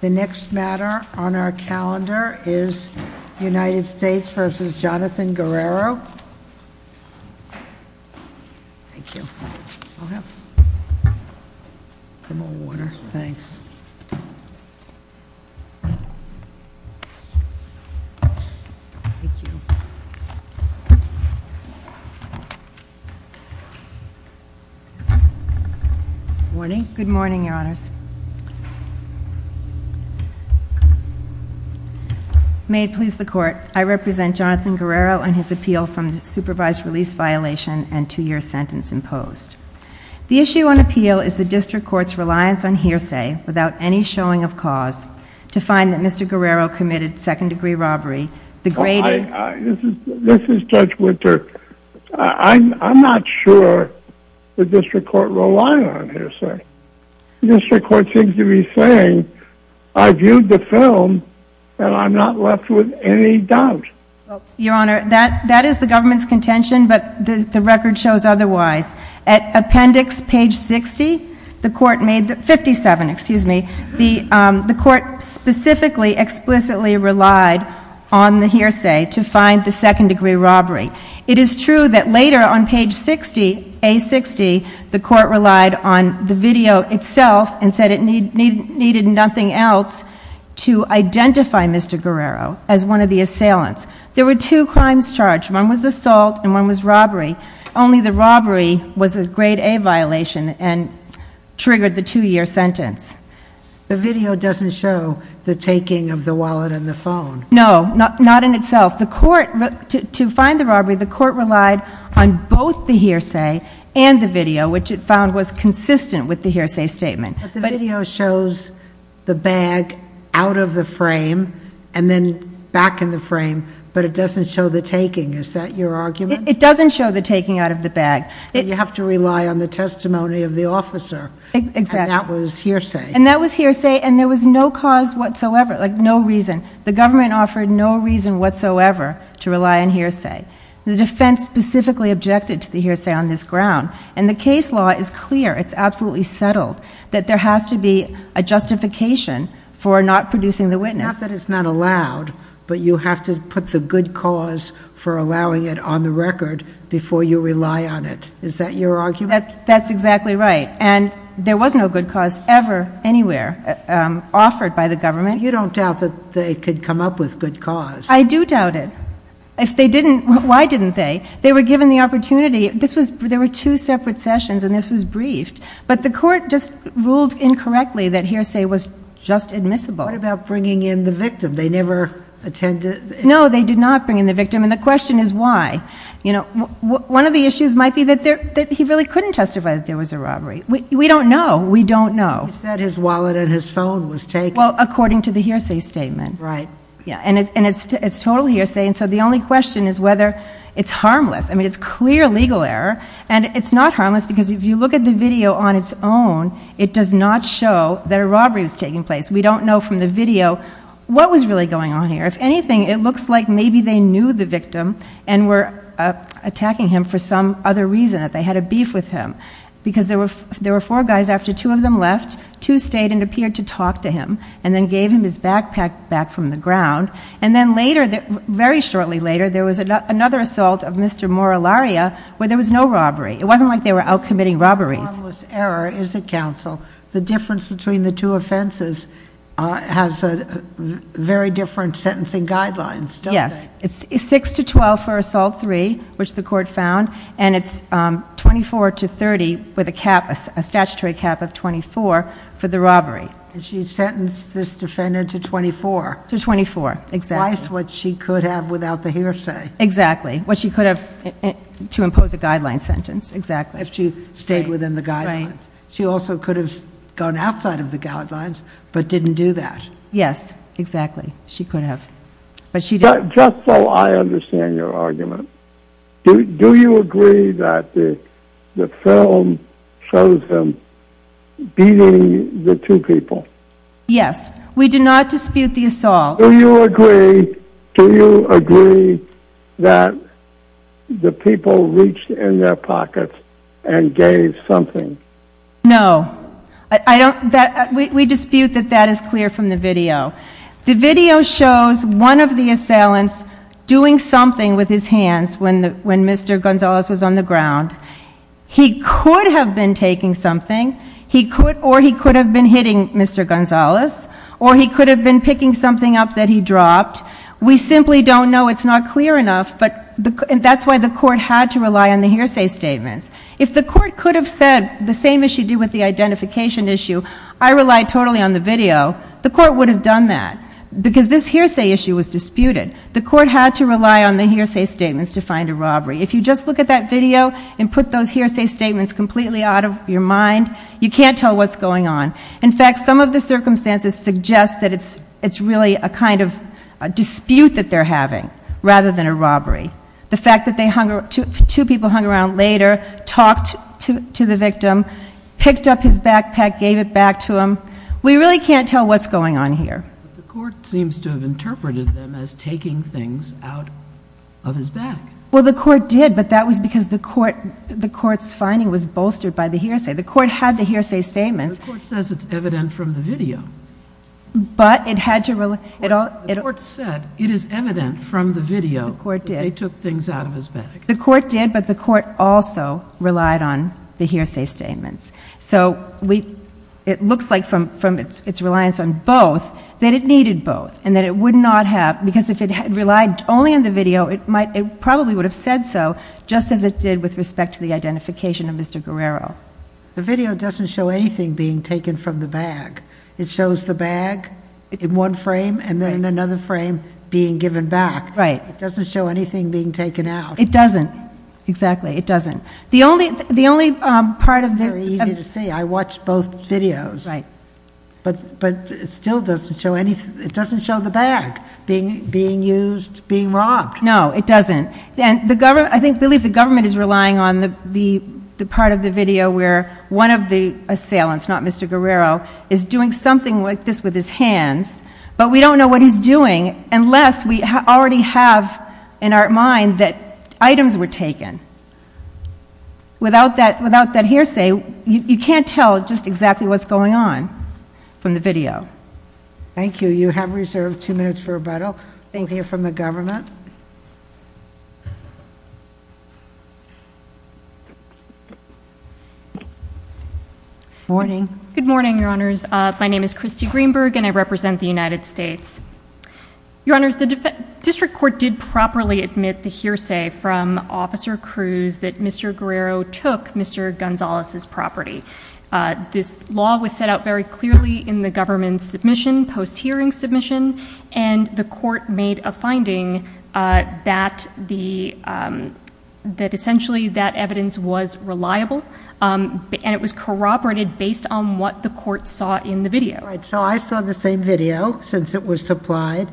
The next matter on our calendar is United States v. Jonathan Guerrero. May it please the Court, I represent Jonathan Guerrero on his appeal from supervised release violation and two-year sentence imposed. The issue on appeal is the District Court's reliance on hearsay without any showing of cause to find that Mr. Guerrero committed second-degree robbery, the grating... This is Judge Winter. I'm not sure the District Court relied on hearsay. The District Court seems to be saying, I viewed the film and I'm not left with any doubt. Your Honor, that is the government's contention, but the record shows otherwise. At appendix page 60, the Court made, 57, excuse me, the Court specifically explicitly relied on the hearsay to find the second-degree robbery. It is true that later on page 60, A60, the Court relied on the video itself and said it needed nothing else to identify Mr. Guerrero as one of the assailants. There were two crimes charged. One was assault and one was robbery. Only the robbery was a grade A violation and triggered the two-year sentence. The video doesn't show the taking of the wallet and the phone. No, not in itself. The Court, to find the robbery, the Court relied on both the hearsay and the video, which it found was consistent with the hearsay statement. But the video shows the bag out of the frame and then back in the frame, but it doesn't show the taking. Is that your argument? It doesn't show the taking out of the bag. Then you have to rely on the testimony of the officer, and that was hearsay. And that was hearsay, and there was no cause whatsoever, like no reason. The government offered no reason whatsoever to rely on hearsay. The defense specifically objected to the hearsay on this ground, and the case law is clear. It's absolutely settled that there has to be a justification for not producing the witness. It's not that it's not allowed, but you have to put the good cause for allowing it on the record before you rely on it. Is that your argument? That's exactly right. And there was no good cause ever, anywhere, offered by the government. You don't doubt that they could come up with good cause. I do doubt it. If they didn't, why didn't they? They were given the opportunity. There were two separate sessions, and this was briefed. But the court just ruled incorrectly that hearsay was just admissible. What about bringing in the victim? They never attended? No, they did not bring in the victim, and the question is why. One of the issues might be that he really couldn't testify that there was a robbery. We don't know. We don't know. He said his wallet and his phone was taken. Well, according to the hearsay statement. Right. And it's total hearsay, and so the only question is whether it's harmless. I mean, it's clear legal error, and it's not harmless because if you look at the video on its own, it does not show that a robbery was taking place. We don't know from the video what was really going on here. If anything, it looks like maybe they knew the victim and were attacking him for some other reason, that they had a beef with him. Because there were four guys after two of them left, two stayed and appeared to talk to him, and then gave him his backpack back from the ground. And then later, very shortly later, there was another assault of Mr. Morularia, where there was no robbery. It wasn't like they were out committing robberies. Harmless error, is it, counsel? The difference between the two offenses has very different sentencing guidelines, don't they? Yes, it's six to 12 for assault three, which the court found, and it's 24 to 30 with a statutory cap of 24 for the robbery. And she sentenced this defendant to 24? To 24, exactly. Twice what she could have without the hearsay. Exactly, what she could have to impose a guideline sentence, exactly. If she stayed within the guidelines. She also could have gone outside of the guidelines, but didn't do that. Yes, exactly, she could have, but she didn't. Just so I understand your argument, do you agree that the film shows them beating the two people? Yes, we do not dispute the assault. Do you agree that the people reached in their pockets and gave something? No, we dispute that that is clear from the video. The video shows one of the assailants doing something with his hands when Mr. Gonzalez was on the ground. He could have been taking something, or he could have been hitting Mr. Gonzalez, or he could have been picking something up that he dropped. We simply don't know, it's not clear enough, and that's why the court had to rely on the hearsay statements. If the court could have said the same as she did with the identification issue, I rely totally on the video, the court would have done that. Because this hearsay issue was disputed. The court had to rely on the hearsay statements to find a robbery. If you just look at that video and put those hearsay statements completely out of your mind, you can't tell what's going on. In fact, some of the circumstances suggest that it's really a kind of dispute that they're having, rather than a robbery. The fact that two people hung around later, talked to the victim, picked up his backpack, gave it back to him. We really can't tell what's going on here. The court seems to have interpreted them as taking things out of his bag. Well, the court did, but that was because the court's finding was bolstered by the hearsay. The court had the hearsay statements. The court says it's evident from the video. But it had to rely, it all- The court said it is evident from the video that they took things out of his bag. The court did, but the court also relied on the hearsay statements. So it looks like from its reliance on both, that it needed both. And that it would not have, because if it had relied only on the video, it probably would have said so, just as it did with respect to the identification of Mr. Guerrero. The video doesn't show anything being taken from the bag. It shows the bag in one frame, and then in another frame, being given back. Right. It doesn't show anything being taken out. It doesn't, exactly, it doesn't. The only part of the- Very easy to see, I watched both videos. Right. But it still doesn't show anything, it doesn't show the bag being used, being robbed. No, it doesn't. And I believe the government is relying on the part of the video where one of the assailants, not Mr. Guerrero, is doing something like this with his hands. But we don't know what he's doing unless we already have in our mind that items were taken. Without that hearsay, you can't tell just exactly what's going on from the video. Thank you. You have reserved two minutes for rebuttal. Thank you from the government. Good morning. Good morning, Your Honors. My name is Christy Greenberg, and I represent the United States. Your Honors, the district court did properly admit the hearsay from Officer Cruz that Mr. Guerrero took Mr. Gonzalez's property. This law was set out very clearly in the government's submission, post-hearing submission, and the court made a finding that essentially that evidence was reliable, and it was corroborated based on what the court saw in the video. All right, so I saw the same video since it was supplied,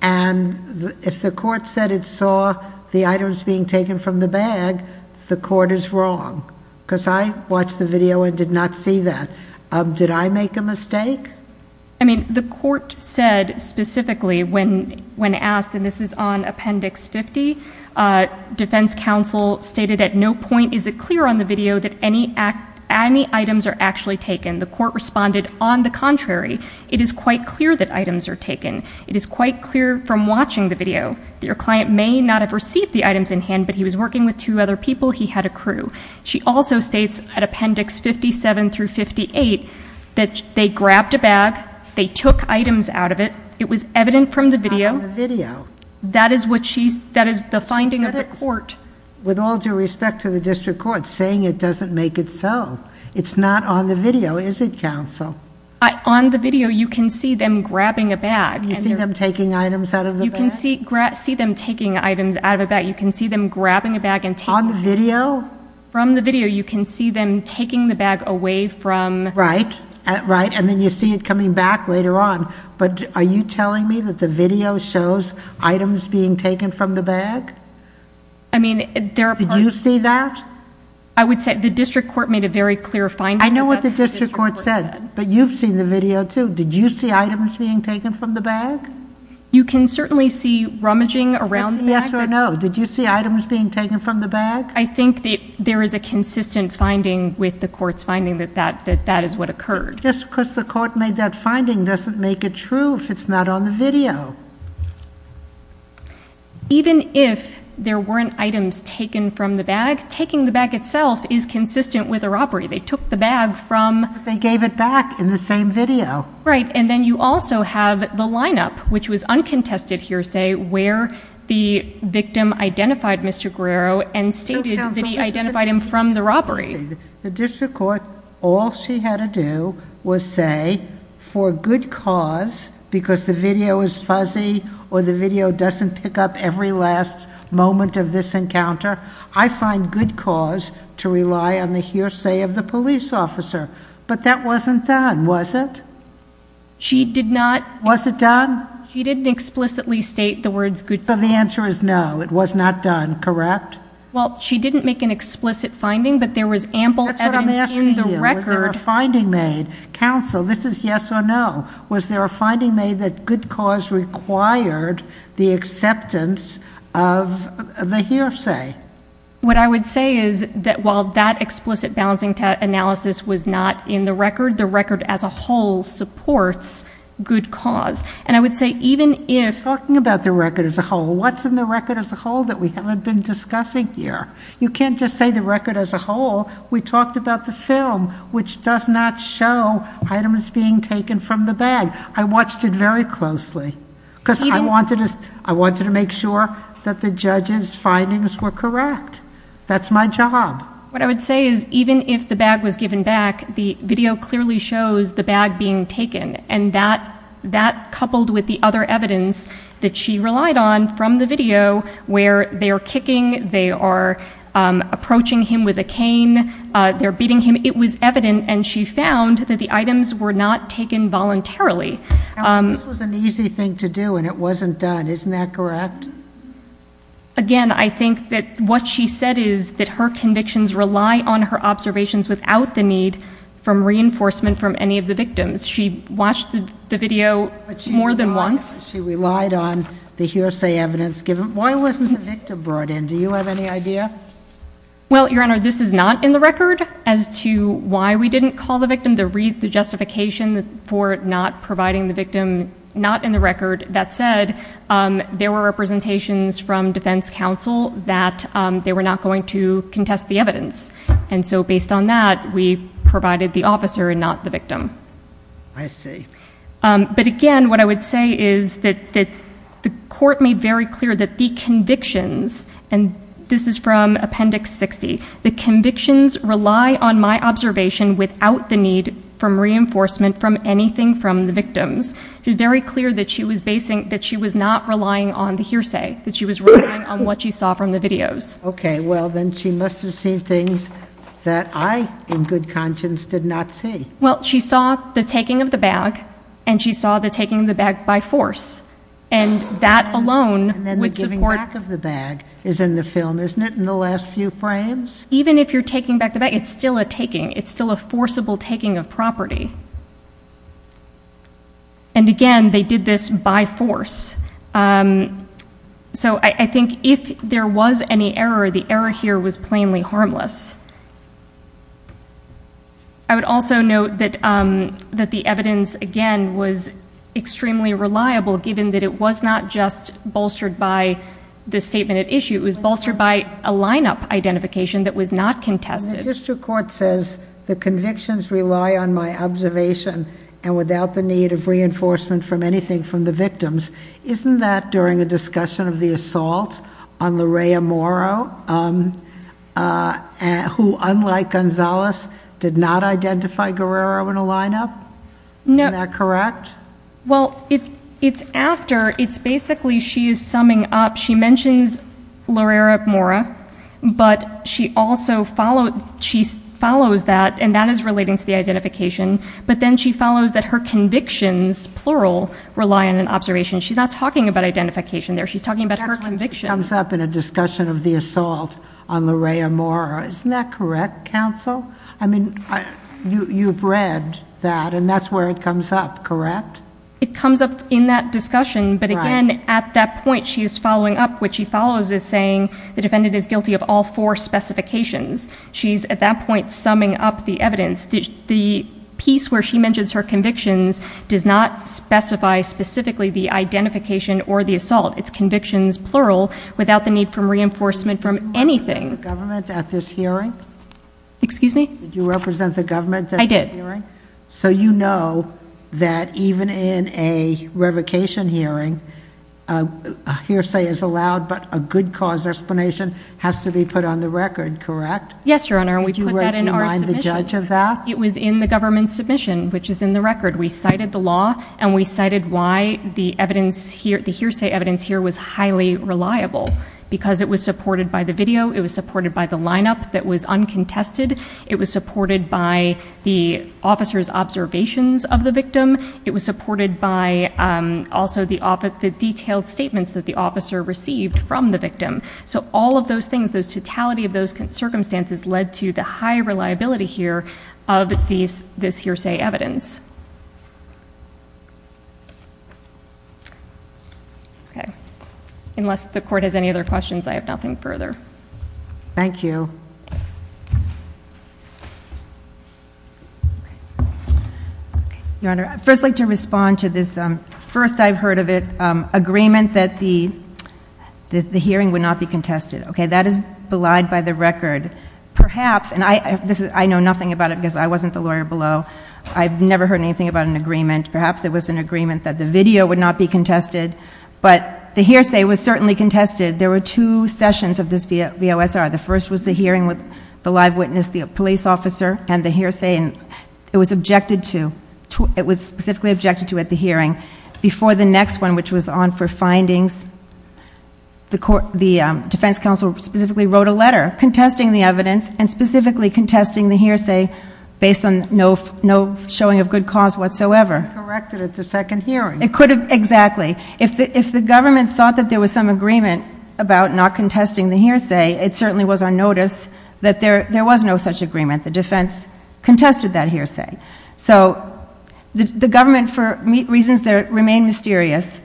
and if the court said it saw the items being taken from the bag, the court is wrong, because I watched the video and did not see that. Did I make a mistake? I mean, the court said specifically when asked, and this is on Appendix 50, defense counsel stated at no point is it clear on the video that any items are actually taken. The court responded, on the contrary, it is quite clear that items are taken. It is quite clear from watching the video that your client may not have received the items in hand, but he was working with two other people, he had a crew. She also states at Appendix 57 through 58 that they grabbed a bag, they took items out of it, it was evident from the video. It's not on the video. That is the finding of the court. With all due respect to the district court, saying it doesn't make it so. It's not on the video, is it, counsel? On the video, you can see them grabbing a bag. You see them taking items out of the bag? You can see them taking items out of a bag. You can see them grabbing a bag and taking it. On the video? From the video, you can see them taking the bag away from... Right, and then you see it coming back later on, but are you telling me that the video shows items being taken from the bag? I mean, there are... Did you see that? I would say the district court made a very clear finding. I know what the district court said, but you've seen the video too. Did you see items being taken from the bag? You can certainly see rummaging around the bag. Yes or no? Did you see items being taken from the bag? I think there is a consistent finding with the court's finding that that is what occurred. Just because the court made that finding doesn't make it true if it's not on the video. Even if there weren't items taken from the bag, taking the bag itself is consistent with a robbery. They took the bag from... They gave it back in the same video. Right, and then you also have the lineup, which was uncontested hearsay, where the victim identified Mr. Guerrero and stated that he identified him from the robbery. The district court, all she had to do was say, for good cause, because the video is fuzzy or the video doesn't pick up every last moment of this encounter, I find good cause to rely on the hearsay of the police officer. But that wasn't done, was it? She did not... Was it done? She didn't explicitly state the words good cause. So the answer is no, it was not done, correct? Well, she didn't make an explicit finding, but there was ample evidence in the record... That's what I'm asking you. Counsel, this is yes or no. Was there a finding made that good cause required the acceptance of the hearsay? What I would say is that while that explicit balancing analysis was not in the record, the record as a whole supports good cause. And I would say even if... We're talking about the record as a whole. What's in the record as a whole that we haven't been discussing here? You can't just say the record as a whole. We talked about the film, which does not show items being taken from the bag. I watched it very closely. Even... Because I wanted to make sure that the judge's findings were correct. That's my job. What I would say is even if the bag was given back, the video clearly shows the bag being taken. And that, coupled with the other evidence that she relied on from the video, where they are kicking, they are approaching him with a cane, they're beating him, it was evident, and she found, that the items were not taken voluntarily. Counsel, this was an easy thing to do, and it wasn't done. Isn't that correct? Again, I think that what she said is that her convictions rely on her observations without the need for reinforcement from any of the victims. She watched the video more than once. She relied on the hearsay evidence given. Why wasn't the victim brought in? Do you have any idea? Well, Your Honor, this is not in the record as to why we didn't call the victim to read the justification for not providing the victim. Not in the record. That said, there were representations from defense counsel that they were not going to contest the evidence. And so, based on that, we provided the officer and not the victim. I see. But again, what I would say is that the court made very clear that the convictions, and this is from Appendix 60, the convictions rely on my observation without the need for reinforcement from anything from the victims. It was very clear that she was not relying on the hearsay, that she was relying on what she saw from the videos. Okay. Well, then she must have seen things that I, in good conscience, did not see. Well, she saw the taking of the bag, and she saw the taking of the bag by force. And that alone would support. And then the giving back of the bag is in the film, isn't it, in the last few frames? Even if you're taking back the bag, it's still a taking. It's still a forcible taking of property. And again, they did this by force. So I think if there was any error, the error here was plainly harmless. I would also note that the evidence, again, was extremely reliable, given that it was not just bolstered by the statement at issue. It was bolstered by a lineup identification that was not contested. And the district court says the convictions rely on my observation and without the need of reinforcement from anything from the victims. Isn't that during a discussion of the assault on Lorea Morrow? Who, unlike Gonzalez, did not identify Guerrero in a lineup? Isn't that correct? Well, it's after. It's basically she is summing up. She mentions Lorea Morrow, but she also follows that, and that is relating to the identification. But then she follows that her convictions, plural, rely on an observation. She's not talking about identification there. She's talking about her convictions. It comes up in a discussion of the assault on Lorea Morrow. Isn't that correct, counsel? I mean, you've read that, and that's where it comes up, correct? It comes up in that discussion. But again, at that point, she is following up. What she follows is saying the defendant is guilty of all four specifications. She's, at that point, summing up the evidence. The piece where she mentions her convictions does not specify specifically the identification or the assault. It's convictions, plural, without the need for reinforcement from anything. Did you represent the government at this hearing? Excuse me? Did you represent the government at this hearing? I did. So you know that even in a revocation hearing, a hearsay is allowed but a good cause explanation has to be put on the record, correct? Yes, Your Honor. We put that in our submission. Did you write behind the judge of that? It was in the government's submission, which is in the record. We cited the law, and we cited why the hearsay evidence here was highly reliable, because it was supported by the video. It was supported by the lineup that was uncontested. It was supported by the officer's observations of the victim. It was supported by also the detailed statements that the officer received from the victim. So all of those things, the totality of those circumstances, led to the high reliability here of this hearsay evidence. Okay. Unless the Court has any other questions, I have nothing further. Thank you. Your Honor, I'd first like to respond to this first I've heard of it agreement that the hearing would not be contested. Okay, that is belied by the record. Perhaps, and I know nothing about it because I wasn't the lawyer below, I've never heard anything about an agreement. Perhaps there was an agreement that the video would not be contested, but the hearsay was certainly contested. There were two sessions of this VOSR. The first was the hearing with the live witness, the police officer, and the hearsay, and it was objected to, it was specifically objected to at the hearing. Before the next one, which was on for findings, the defense counsel specifically wrote a letter contesting the evidence and specifically contesting the hearsay based on no showing of good cause whatsoever. It could have been corrected at the second hearing. It could have, exactly. If the government thought that there was some agreement about not contesting the hearsay, it certainly was on notice that there was no such agreement. The defense contested that hearsay. So the government, for reasons that remain mysterious,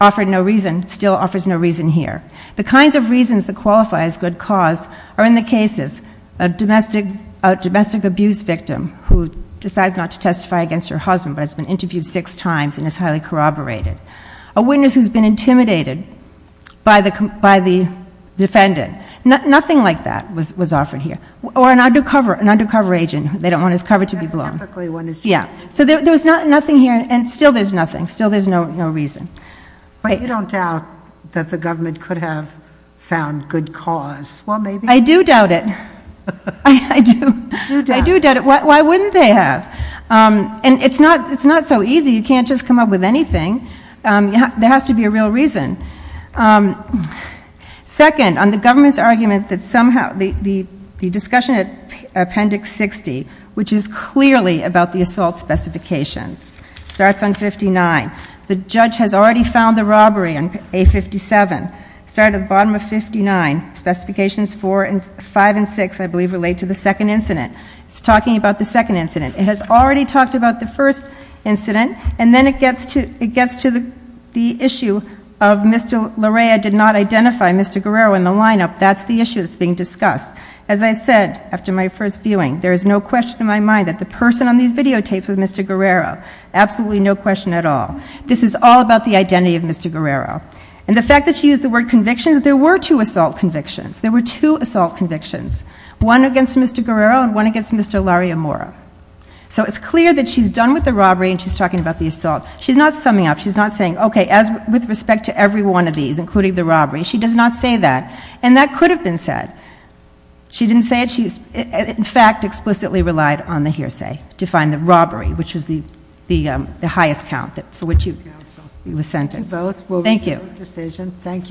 offered no reason, still offers no reason here. The kinds of reasons that qualify as good cause are in the cases, a domestic abuse victim who decides not to testify against her husband but has been interviewed six times and is highly corroborated. A witness who's been intimidated by the defendant. Nothing like that was offered here. Or an undercover agent. They don't want his cover to be blown. So there was nothing here, and still there's nothing. Still there's no reason. But you don't doubt that the government could have found good cause. I do doubt it. I do doubt it. Why wouldn't they have? And it's not so easy. You can't just come up with anything. There has to be a real reason. Second, on the government's argument that somehow the discussion at Appendix 60, which is clearly about the assault specifications, starts on 59. The judge has already found the robbery on A57. Started at the bottom of 59. Specifications 5 and 6, I believe, relate to the second incident. It's talking about the second incident. It has already talked about the first incident, and then it gets to the issue of Mr. Larea did not identify Mr. Guerrero in the lineup. That's the issue that's being discussed. As I said, after my first viewing, there is no question in my mind that the person on these videotapes was Mr. Guerrero. Absolutely no question at all. This is all about the identity of Mr. Guerrero. And the fact that she used the word convictions, there were two assault convictions. There were two assault convictions. One against Mr. Guerrero and one against Mr. Larry Amora. So it's clear that she's done with the robbery and she's talking about the assault. She's not summing up. She's not saying, okay, with respect to every one of these, including the robbery, she does not say that. And that could have been said. She didn't say it. She, in fact, explicitly relied on the hearsay to find the robbery, which was the highest count for which he was sentenced. Thank you. Thank you. Thank you.